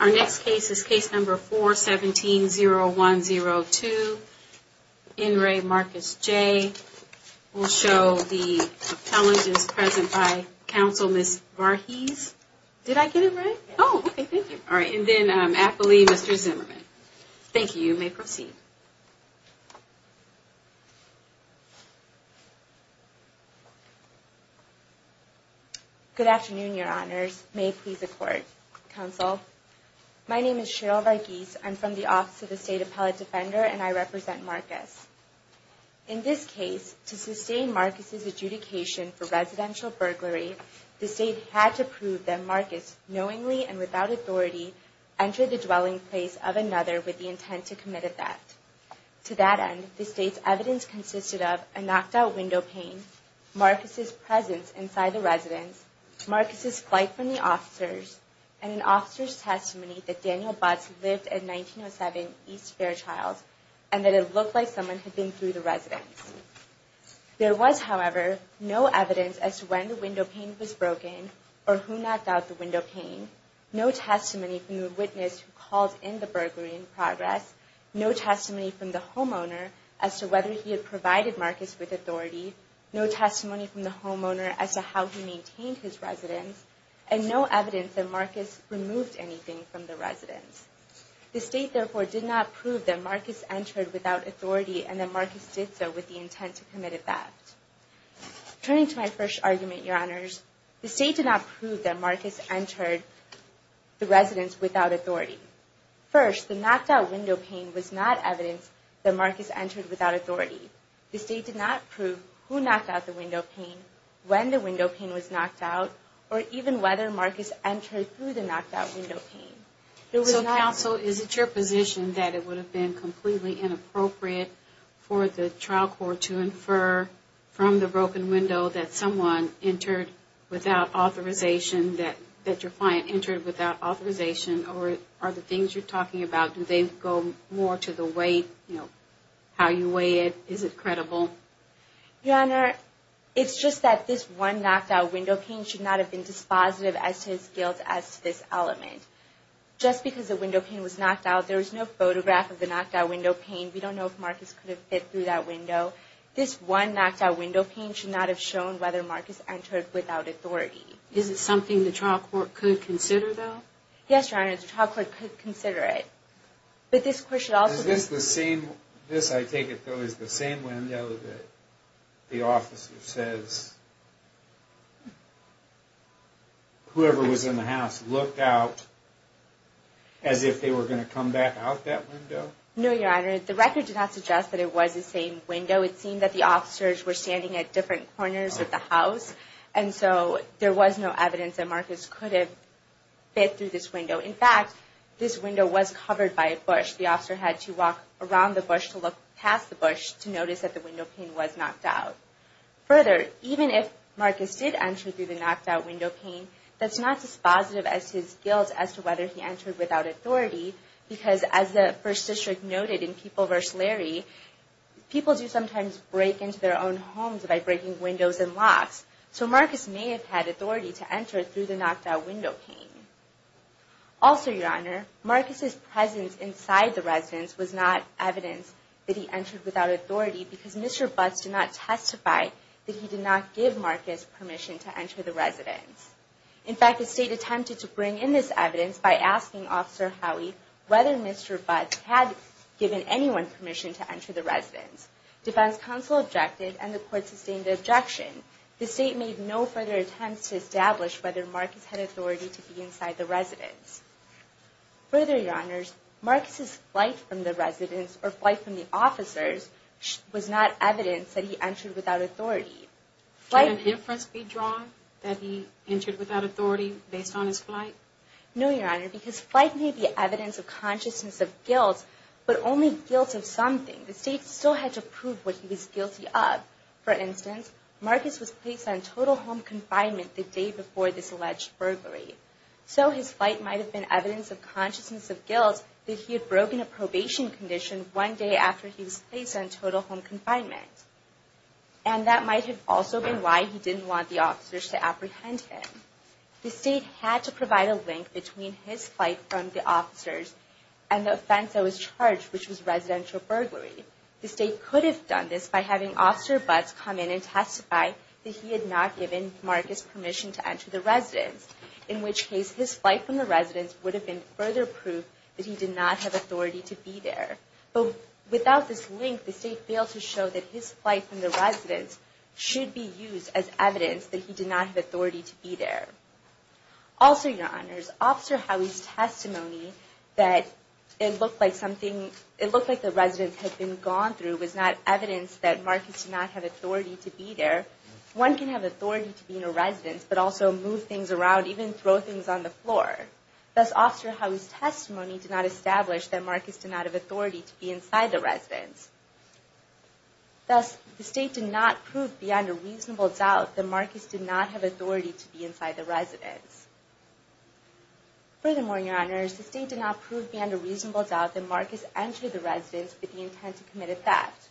Our next case is case number 4-17-0102. In re. Marcus J. We'll show the appellants present by counsel, Ms. Varghese. Did I get it right? Oh, okay, thank you. All right, and then appellee, Mr. Zimmerman. Thank you. You may proceed. Good afternoon, your honors. May it please the court, counsel. My name is Cheryl Varghese. I'm from the Office of the State Appellate Defender, and I represent Marcus. In this case, to sustain Marcus' adjudication for residential burglary, the state had to prove that Marcus, knowingly and without authority, entered the dwelling place of another with the intent to commit a theft. To that end, the state's evidence consisted of a knocked-out window pane, Marcus' presence inside the residence, Marcus' flight from the officers, and an officer's testimony that Daniel Butz lived at 1907 East Fairchild, and that it looked like someone had been through the residence. There was, however, no evidence as to when the window pane was broken or who knocked out the window pane, no testimony from the witness who called in the burglary in progress, as to whether he had provided Marcus with authority, no testimony from the homeowner as to how he maintained his residence, and no evidence that Marcus removed anything from the residence. The state, therefore, did not prove that Marcus entered without authority and that Marcus did so with the intent to commit a theft. Turning to my first argument, Your Honors, the state did not prove that Marcus entered the residence without authority. First, the knocked-out window pane was not evidence that Marcus entered without authority. The state did not prove who knocked out the window pane, when the window pane was knocked out, or even whether Marcus entered through the knocked-out window pane. So, counsel, is it your position that it would have been completely inappropriate for the trial court to infer from the broken window that someone entered without authorization, that your client entered without authorization, or are the things you're talking about, do they go more to the weight, you know, how you weigh it, is it credible? Your Honor, it's just that this one knocked-out window pane should not have been dispositive as to his guilt as to this element. Just because the window pane was knocked out, there was no photograph of the knocked-out window pane. We don't know if Marcus could have fit through that window. This one knocked-out window pane should not have shown whether Marcus entered without authority. Is it something the trial court could consider, though? Yes, Your Honor, the trial court could consider it. But this question also... Is this the same... This, I take it, though, is the same window that the officer says... ..whoever was in the house looked out as if they were going to come back out that window? No, Your Honor, the record did not suggest that it was the same window. It seemed that the officers were standing at different corners of the house, and so there was no evidence that Marcus could have fit through this window. In fact, this window was covered by a bush. The officer had to walk around the bush to look past the bush to notice that the window pane was knocked out. Further, even if Marcus did enter through the knocked-out window pane, that's not dispositive as to his guilt as to whether he entered without authority, because as the First District noted in People v. Larry, people do sometimes break into their own homes by breaking windows and locks. So Marcus may have had authority to enter through the knocked-out window pane. Also, Your Honor, Marcus' presence inside the residence was not evidence that he entered without authority because Mr. Butts did not testify that he did not give Marcus permission to enter the residence. In fact, the State attempted to bring in this evidence by asking Officer Howey whether Mr. Butts had given anyone permission to enter the residence. Defense Counsel objected, and the Court sustained the objection. The State made no further attempts to establish whether Marcus had authority to be inside the residence. Further, Your Honors, Marcus' flight from the residence, or flight from the officers, was not evidence that he entered without authority. Can a difference be drawn that he entered without authority based on his flight? No, Your Honor, because flight may be evidence of consciousness of guilt, but only guilt of something. The State still had to prove what he was guilty of. For instance, Marcus was placed on total home confinement the day before this alleged burglary. So his flight might have been evidence of consciousness of guilt that he had broken a probation condition one day after he was placed on total home confinement. And that might have also been why he didn't want the officers to apprehend him. The State had to provide a link between his flight from the officers and the offense that was charged, which was residential burglary. that he had not given Marcus permission to enter the residence. In which case, his flight from the residence would have been further proof that he did not have authority to be there. But without this link, the State failed to show that his flight from the residence should be used as evidence that he did not have authority to be there. Also, Your Honors, Officer Howey's testimony that it looked like something, it looked like the residence had been gone through was not evidence that Marcus did not have authority to be there. One can have authority to be in a residence, but also move things around, even throw things on the floor. Thus, Officer Howey's testimony did not establish that Marcus did not have authority to be inside the residence. Thus, the State did not prove beyond a reasonable doubt that Marcus did not have authority to be inside the residence. Furthermore, Your Honors, the State did not prove beyond a reasonable doubt that Marcus entered the residence with the intent to commit a theft.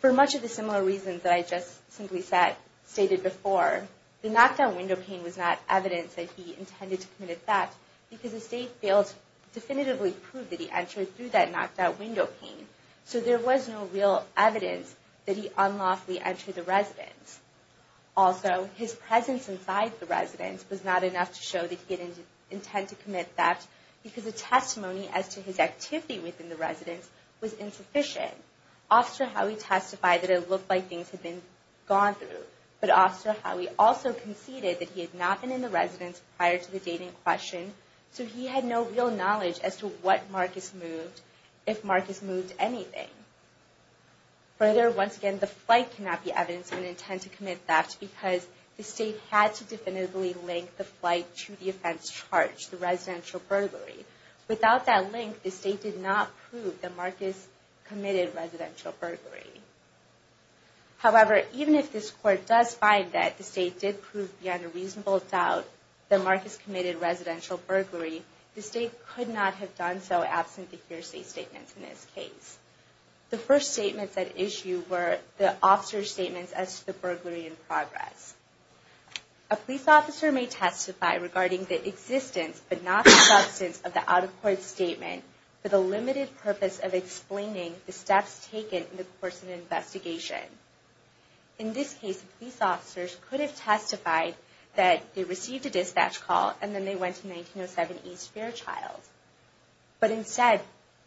For much of the similar reasons that I just simply stated before, the knocked-out window pane was not evidence that he intended to commit a theft because the State failed to definitively prove that he entered through that knocked-out window pane. So there was no real evidence that he unlawfully entered the residence. Also, his presence inside the residence was not enough to show that he didn't intend to commit theft because the testimony as to his activity within the residence was insufficient. Officer Howey testified that it looked like things had been gone through, but Officer Howey also conceded that he had not been in the residence prior to the date in question, so he had no real knowledge as to what Marcus moved, if Marcus moved anything. Further, once again, the flight cannot be evidence of an intent to commit theft because the State had to definitively link the flight to the offense charged, the residential burglary. Without that link, the State did not prove that Marcus committed residential burglary. However, even if this Court does find that the State did prove beyond a reasonable doubt that Marcus committed residential burglary, the State could not have done so absent the hearsay statements in this case. The first statements at issue were the Officer's statements as to the burglary in progress. A police officer may testify regarding the existence, but not the substance of the out-of-court statement for the limited purpose of explaining the steps taken in the course of the investigation. In this case, police officers could have testified that they received a dispatch call and then they went to 1907 East Fairchild. But instead,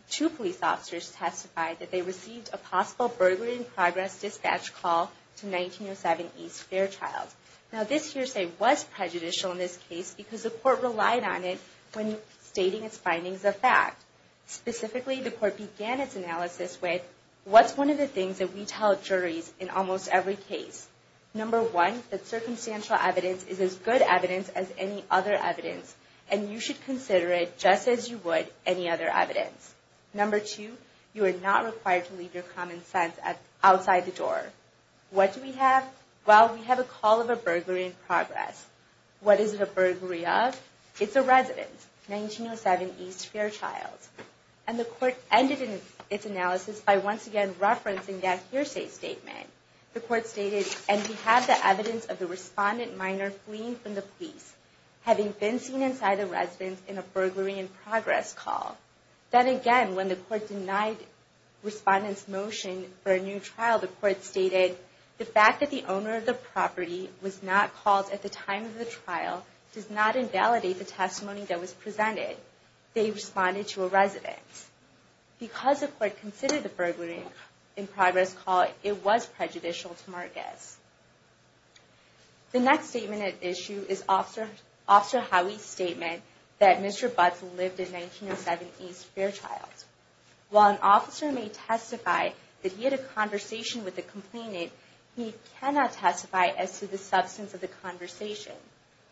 two police officers testified that they received a possible burglary in progress dispatch call to 1907 East Fairchild. Now, this hearsay was prejudicial in this case because the Court relied on it when stating its findings of fact. Specifically, the Court began its analysis with, what's one of the things that we tell juries in almost every case? Number one, that circumstantial evidence is as good evidence as any other evidence and you should consider it just as you would any other evidence. Number two, you are not required to leave your common sense outside the door. What do we have? Well, we have a call of a burglary in progress. What is it a burglary of? It's a residence, 1907 East Fairchild. And the Court ended its analysis by once again referencing that hearsay statement. The Court stated, and we have the evidence of the respondent minor fleeing from the police, having been seen inside the residence in a burglary in progress call. Then again, when the Court denied respondent's motion for a new trial, the Court stated, the fact that the owner of the property was not called at the time of the trial does not invalidate the testimony that was presented. They responded to a residence. Because the Court considered the burglary in progress call, it was prejudicial to Marcus. The next statement at issue is Officer Howie's statement that Mr. Butts lived in 1907 East Fairchild. While an officer may testify that he had a conversation with a complainant, he cannot testify as to the substance of the conversation.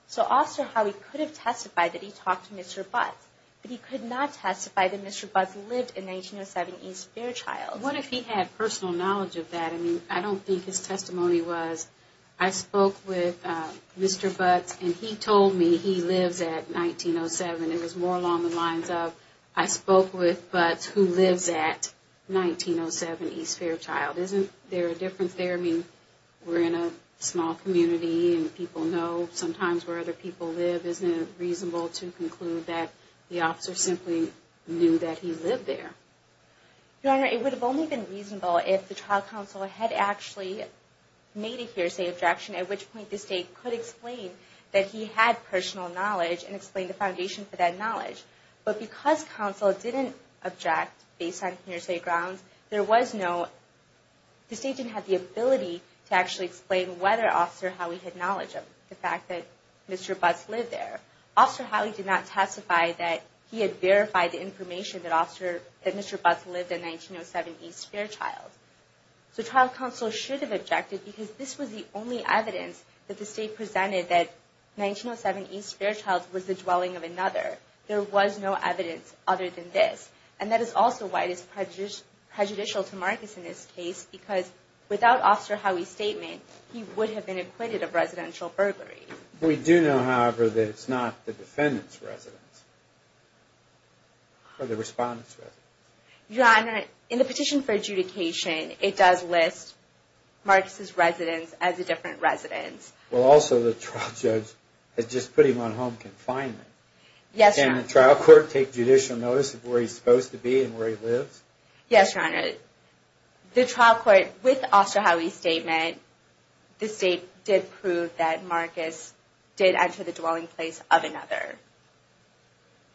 So Officer Howie could have testified that he talked to Mr. Butts, but he could not testify that Mr. Butts lived in 1907 East Fairchild. What if he had personal knowledge of that? I mean, I don't think his testimony was, I spoke with Mr. Butts and he told me he lives at 1907. It was more along the lines of, I spoke with Butts who lives at 1907 East Fairchild. Isn't there a difference there? I mean, we're in a small community and people know sometimes where other people live. Isn't it reasonable to conclude that the officer simply knew that he lived there? Your Honor, it would have only been reasonable if the trial counsel had actually made a hearsay objection, at which point the State could explain that he had personal knowledge and explain the foundation for that knowledge. But because counsel didn't object based on hearsay grounds, there was no, the State didn't have the ability to actually explain whether Officer Howie had knowledge of the fact that Mr. Butts lived there. Officer Howie did not testify that he had verified the information that Mr. Butts lived at 1907 East Fairchild. So trial counsel should have objected because this was the only evidence that the State presented that 1907 East Fairchild was the dwelling of another. There was no evidence other than this. And that is also why it is prejudicial to Marcus in this case because without Officer Howie's statement, he would have been acquitted of residential burglary. We do know, however, that it's not the defendant's residence or the respondent's residence. Your Honor, in the petition for adjudication, it does list Marcus's residence as a different residence. Well, also the trial judge has just put him on home confinement. Yes, Your Honor. Can the trial court take judicial notice of where he's supposed to be and where he lives? Yes, Your Honor. The trial court, with Officer Howie's statement, the State did prove that Marcus did enter the dwelling place of another.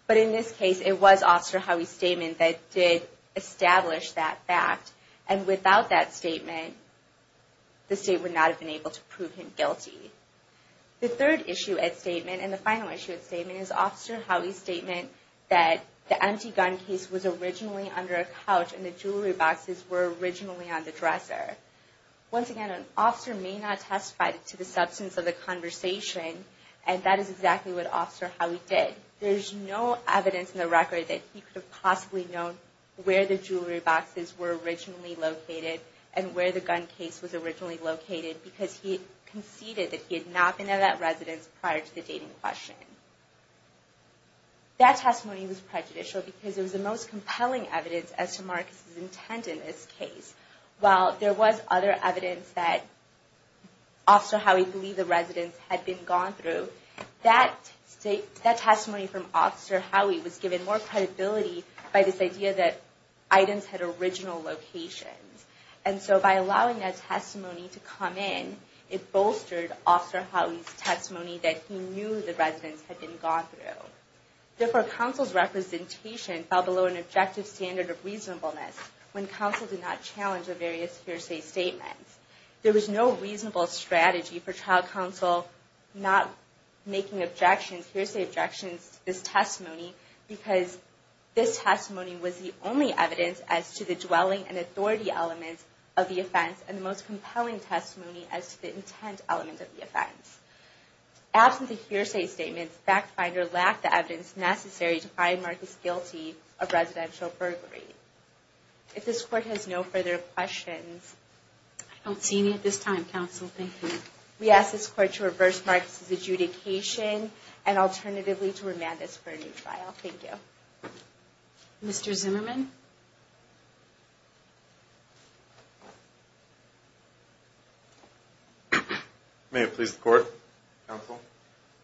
But in this case, it was Officer Howie's statement that did establish that fact. And without that statement, the State would not have been able to prove him guilty. The third issue at statement, and the final issue at statement, is Officer Howie's statement that the empty gun case was originally under a couch and the jewelry boxes were originally on the dresser. Once again, an officer may not testify to the substance of the conversation, and that is exactly what Officer Howie did. There's no evidence in the record that he could have possibly known where the jewelry boxes were originally located and where the gun case was originally located because he conceded that he had not been at that residence prior to the dating question. That testimony was prejudicial because it was the most compelling evidence as to Marcus's intent in this case. While there was other evidence that Officer Howie believed the residence had been gone through, that testimony from Officer Howie was given more credibility by this idea that items had original locations. And so by allowing that testimony to come in, it bolstered Officer Howie's testimony that he knew the residence had been gone through. Therefore, counsel's representation fell below an objective standard of reasonableness when counsel did not challenge the various hearsay statements. There was no reasonable strategy for trial counsel not making hearsay objections to this testimony because this testimony was the only evidence as to the dwelling and authority elements of the offense and the most compelling testimony as to the intent element of the offense. Absent the hearsay statements, FactFinder lacked the evidence necessary to find Marcus guilty of residential burglary. If this court has no further questions... I don't see any at this time, counsel. Thank you. We ask this court to reverse Marcus's adjudication and alternatively to remand this for a new trial. Thank you. Mr. Zimmerman? May it please the court, counsel.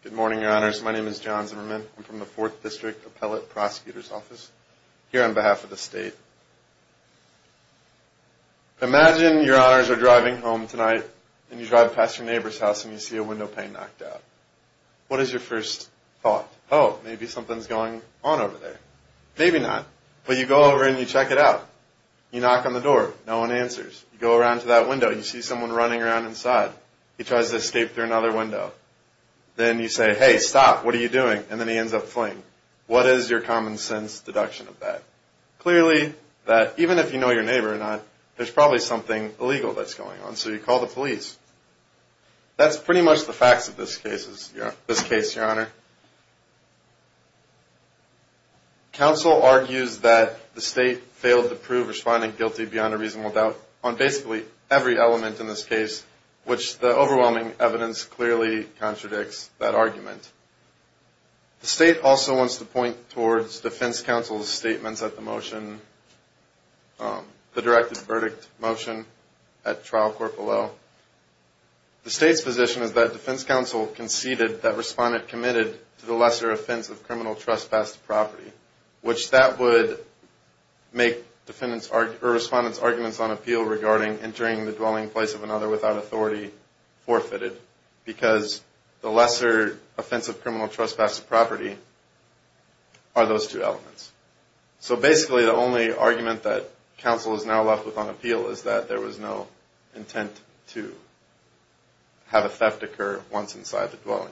Good morning, your honors. My name is John Zimmerman. I'm from the 4th District Appellate Prosecutor's Office here on behalf of the state. Imagine your honors are driving home tonight and you drive past your neighbor's house and you see a window pane knocked out. What is your first thought? Oh, maybe something's going on over there. Maybe not. But you go over and you check it out. You knock on the door. No one answers. You go around to that window and you see someone running around inside. He tries to escape through another window. Then you say, hey, stop. What are you doing? And then he ends up fleeing. What is your common sense deduction of that? Clearly that even if you know your neighbor or not, there's probably something illegal that's going on. So you call the police. That's pretty much the facts of this case, your honor. Counsel argues that the state failed to prove responding guilty beyond a reasonable doubt on basically every element in this case, which the overwhelming evidence clearly contradicts that argument. The state also wants to point towards defense counsel's statements at the motion, the directed verdict motion at trial court below. The state's position is that defense counsel conceded that respondent committed to the lesser offense of criminal trespass to property, which that would make respondent's arguments on appeal regarding entering the dwelling place of another without authority forfeited, because the lesser offense of criminal trespass to property are those two elements. So basically the only argument that counsel is now left with on appeal is that there was no intent to have a theft occur once inside the dwelling.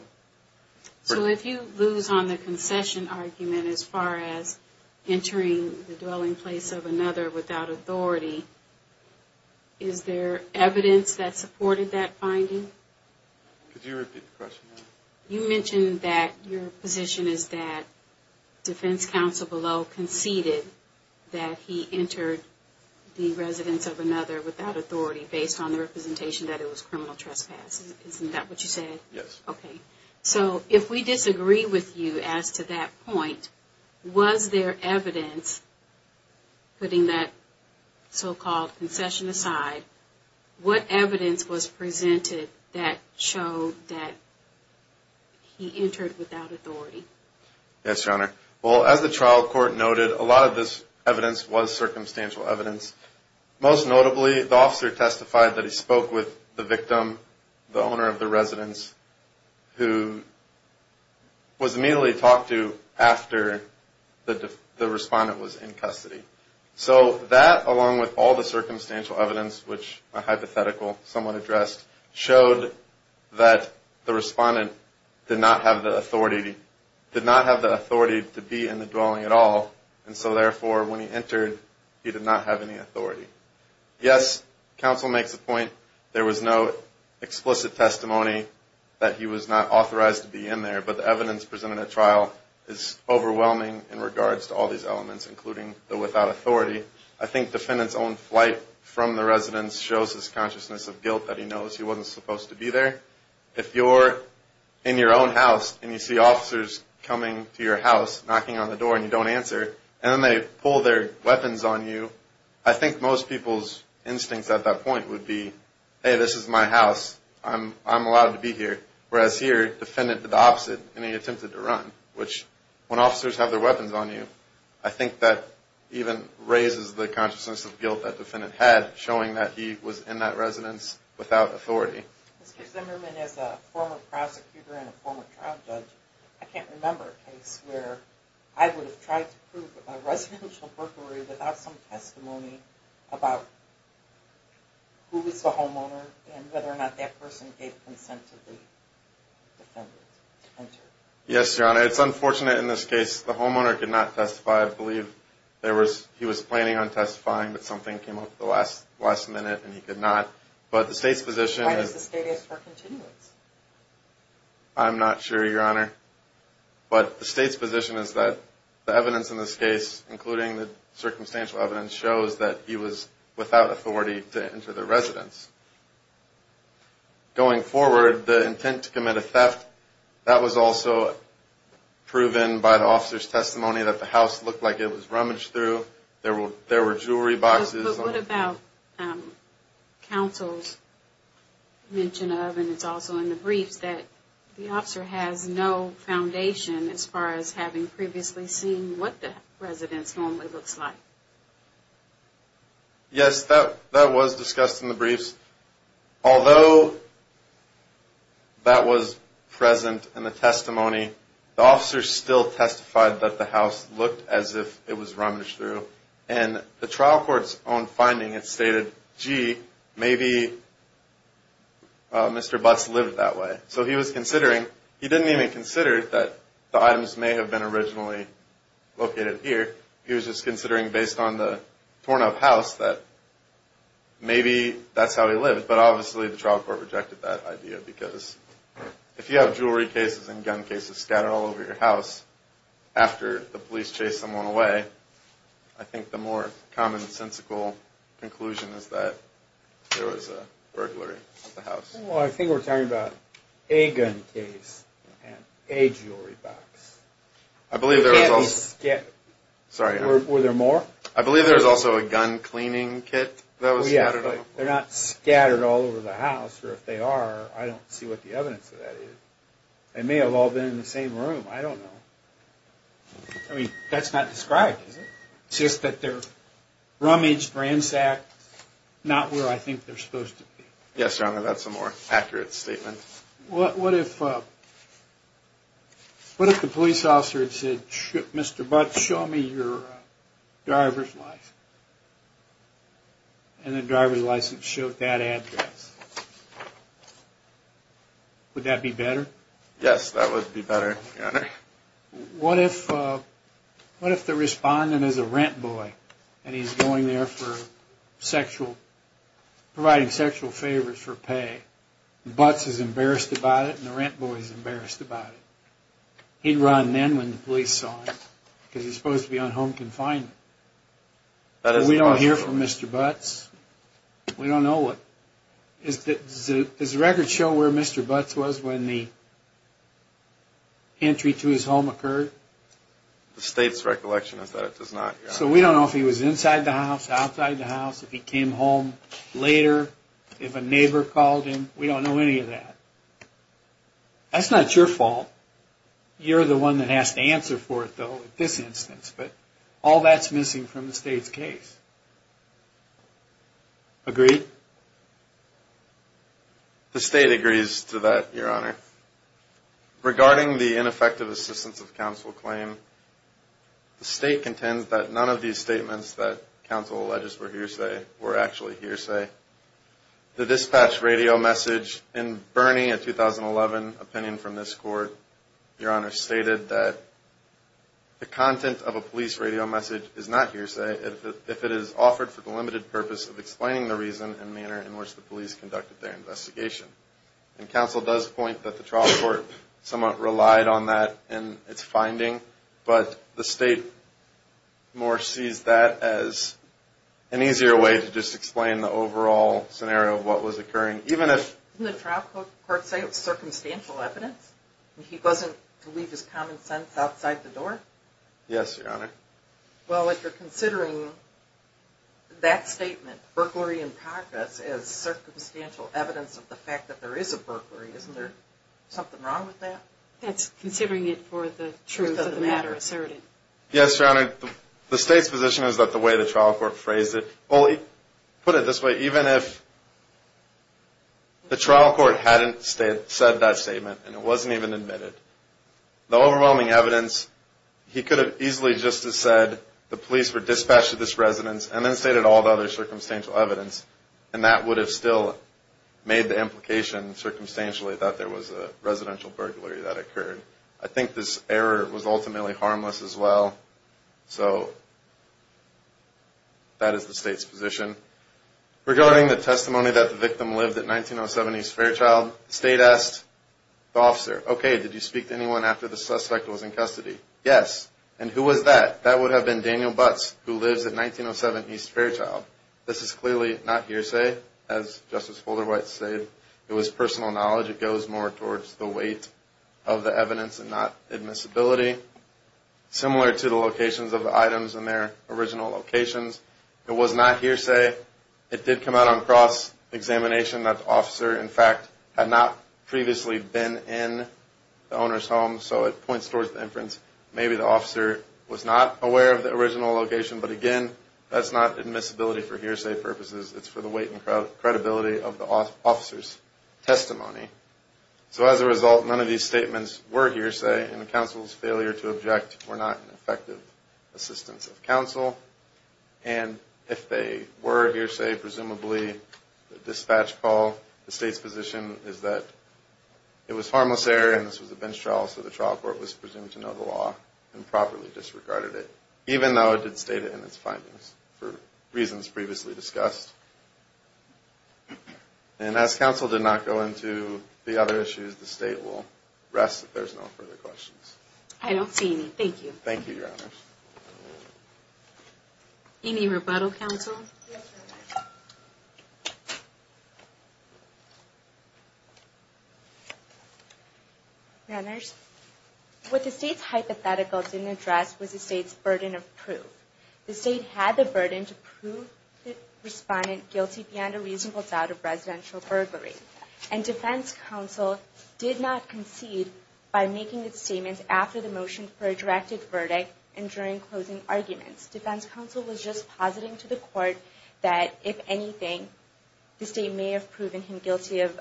So if you lose on the concession argument as far as entering the dwelling place of another without authority, is there evidence that supported that finding? Could you repeat the question? You mentioned that your position is that defense counsel below conceded that he entered the residence of another without authority based on the representation that it was criminal trespass. Isn't that what you said? Yes. Okay. So if we disagree with you as to that point, was there evidence, putting that so-called concession aside, what evidence was presented that showed that he entered without authority? Yes, Your Honor. Well, as the trial court noted, a lot of this evidence was circumstantial evidence. Most notably, the officer testified that he spoke with the victim, the owner of the residence, who was immediately talked to after the respondent was in custody. So that, along with all the circumstantial evidence, which are hypothetical, somewhat addressed, showed that the respondent did not have the authority to be in the dwelling at all, and so therefore when he entered, he did not have any authority. Yes, counsel makes a point. There was no explicit testimony that he was not authorized to be in there, but the evidence presented at trial is overwhelming in regards to all these elements, including the without authority. I think defendant's own flight from the residence shows his consciousness of guilt, that he knows he wasn't supposed to be there. If you're in your own house and you see officers coming to your house, knocking on the door and you don't answer, and then they pull their weapons on you, I think most people's instincts at that point would be, hey, this is my house. I'm allowed to be here. Whereas here, defendant did the opposite and he attempted to run, which when officers have their weapons on you, I think that even raises the consciousness of guilt that defendant had, showing that he was in that residence without authority. Mr. Zimmerman, as a former prosecutor and a former trial judge, I can't remember a case where I would have tried to prove a residential burglary without some testimony about who was the homeowner and whether or not that person gave consent to the defendant to enter. Yes, Your Honor. It's unfortunate in this case the homeowner could not testify. I believe he was planning on testifying, but something came up at the last minute and he could not. Why does the state ask for continuance? I'm not sure, Your Honor. But the state's position is that the evidence in this case, including the circumstantial evidence, shows that he was without authority to enter the residence. Going forward, the intent to commit a theft, that was also proven by the officer's testimony that the house looked like it was rummaged through. There were jewelry boxes. But what about counsel's mention of, and it's also in the briefs, that the officer has no foundation as far as having previously seen what the residence normally looks like? Yes, that was discussed in the briefs. Although that was present in the testimony, the officer still testified that the house looked as if it was rummaged through. And the trial court's own finding, it stated, gee, maybe Mr. Butts lived that way. So he was considering, he didn't even consider that the items may have been originally located here. He was just considering based on the torn up house that maybe that's how he lived. But obviously the trial court rejected that idea because if you have jewelry cases and gun cases scattered all over your house after the police chased someone away, I think the more commonsensical conclusion is that there was a burglary of the house. Well, I think we're talking about a gun case and a jewelry box. I believe there was also... You can't be... Sorry. Were there more? I believe there was also a gun cleaning kit that was scattered all over. They're not scattered all over the house, or if they are, I don't see what the evidence of that is. They may have all been in the same room. I don't know. I mean, that's not described, is it? It's just that they're rummaged, ransacked, not where I think they're supposed to be. Yes, Your Honor, that's a more accurate statement. What if the police officer had said, Mr. Butts, show me your driver's license, and the driver's license showed that address? Would that be better? Yes, that would be better, Your Honor. What if the respondent is a rent boy, and he's going there for sexual... providing sexual favors for pay, and Butts is embarrassed about it, and the rent boy is embarrassed about it? He'd run then when the police saw him, because he's supposed to be on home confinement. We don't hear from Mr. Butts. We don't know what... Does the record show where Mr. Butts was when the entry to his home occurred? The state's recollection is that it does not, Your Honor. So we don't know if he was inside the house, outside the house, if he came home later, if a neighbor called him. We don't know any of that. That's not your fault. You're the one that has to answer for it, though, in this instance. But all that's missing from the state's case. Agreed? The state agrees to that, Your Honor. Regarding the ineffective assistance of counsel claim, the state contends that none of these statements that counsel alleges were hearsay were actually hearsay. The dispatch radio message in Bernie, a 2011 opinion from this court, Your Honor, the content of a police radio message is not hearsay if it is offered for the limited purpose of explaining the reason and manner in which the police conducted their investigation. And counsel does point that the trial court somewhat relied on that in its finding, but the state more sees that as an easier way to just explain the overall scenario of what was occurring, even if... Didn't the trial court say it was circumstantial evidence? He wasn't to leave his common sense outside the door? Yes, Your Honor. Well, if you're considering that statement, burglary in progress, as circumstantial evidence of the fact that there is a burglary, isn't there something wrong with that? That's considering it for the truth of the matter asserted. Yes, Your Honor. The state's position is that the way the trial court phrased it... Well, he put it this way, even if the trial court hadn't said that statement and it wasn't even admitted, the overwhelming evidence, he could have easily just as said the police were dispatched to this residence and then stated all the other circumstantial evidence, and that would have still made the implication circumstantially that there was a residential burglary that occurred. I think this error was ultimately harmless as well. So that is the state's position. Regarding the testimony that the victim lived at 1907 East Fairchild, the state asked the officer, Okay, did you speak to anyone after the suspect was in custody? Yes. And who was that? That would have been Daniel Butts, who lives at 1907 East Fairchild. This is clearly not hearsay. As Justice Folderwhite said, it was personal knowledge. It goes more towards the weight of the evidence and not admissibility. Similar to the locations of the items in their original locations. It was not hearsay. It did come out on cross-examination that the officer, in fact, had not previously been in the owner's home, so it points towards the inference maybe the officer was not aware of the original location, but again, that's not admissibility for hearsay purposes. It's for the weight and credibility of the officer's testimony. So as a result, none of these statements were hearsay, and the counsel's failure to object were not an effective assistance of counsel. And if they were hearsay, presumably the dispatch call, the state's position is that it was harmless error, and this was a bench trial, so the trial court was presumed to know the law and properly disregarded it, even though it did state it in its findings for reasons previously discussed. And as counsel did not go into the other issues, the state will rest if there's no further questions. I don't see any. Thank you. Thank you, Your Honors. Any rebuttal, counsel? Your Honors, what the state's hypothetical didn't address was the state's burden of proof. The state had the burden to prove the respondent guilty beyond a reasonable doubt of residential burglary, and defense counsel did not concede by making its statements after the motion for a directed verdict and during closing arguments. Defense counsel was just positing to the court that, if anything, the state may have proven him guilty of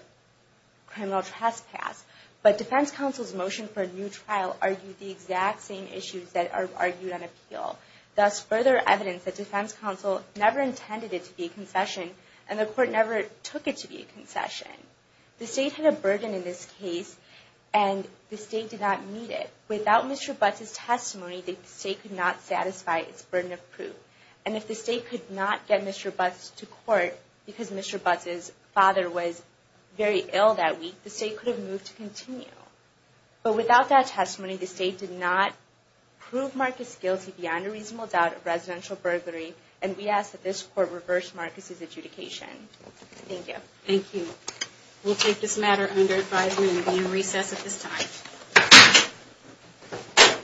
criminal trespass. But defense counsel's motion for a new trial argued the exact same issues that are argued on appeal, thus further evidence that defense counsel never intended it to be a concession, and the court never took it to be a concession. The state had a burden in this case, and the state did not meet it. Without Mr. Butts' testimony, the state could not satisfy its burden of proof. And if the state could not get Mr. Butts to court because Mr. Butts' father was very ill that week, the state could have moved to continue. But without that testimony, the state did not prove Marcus guilty beyond a reasonable doubt of residential burglary, and we ask that this court reverse Marcus's adjudication. Thank you. Thank you. We'll take this matter under advisory and be in recess at this time.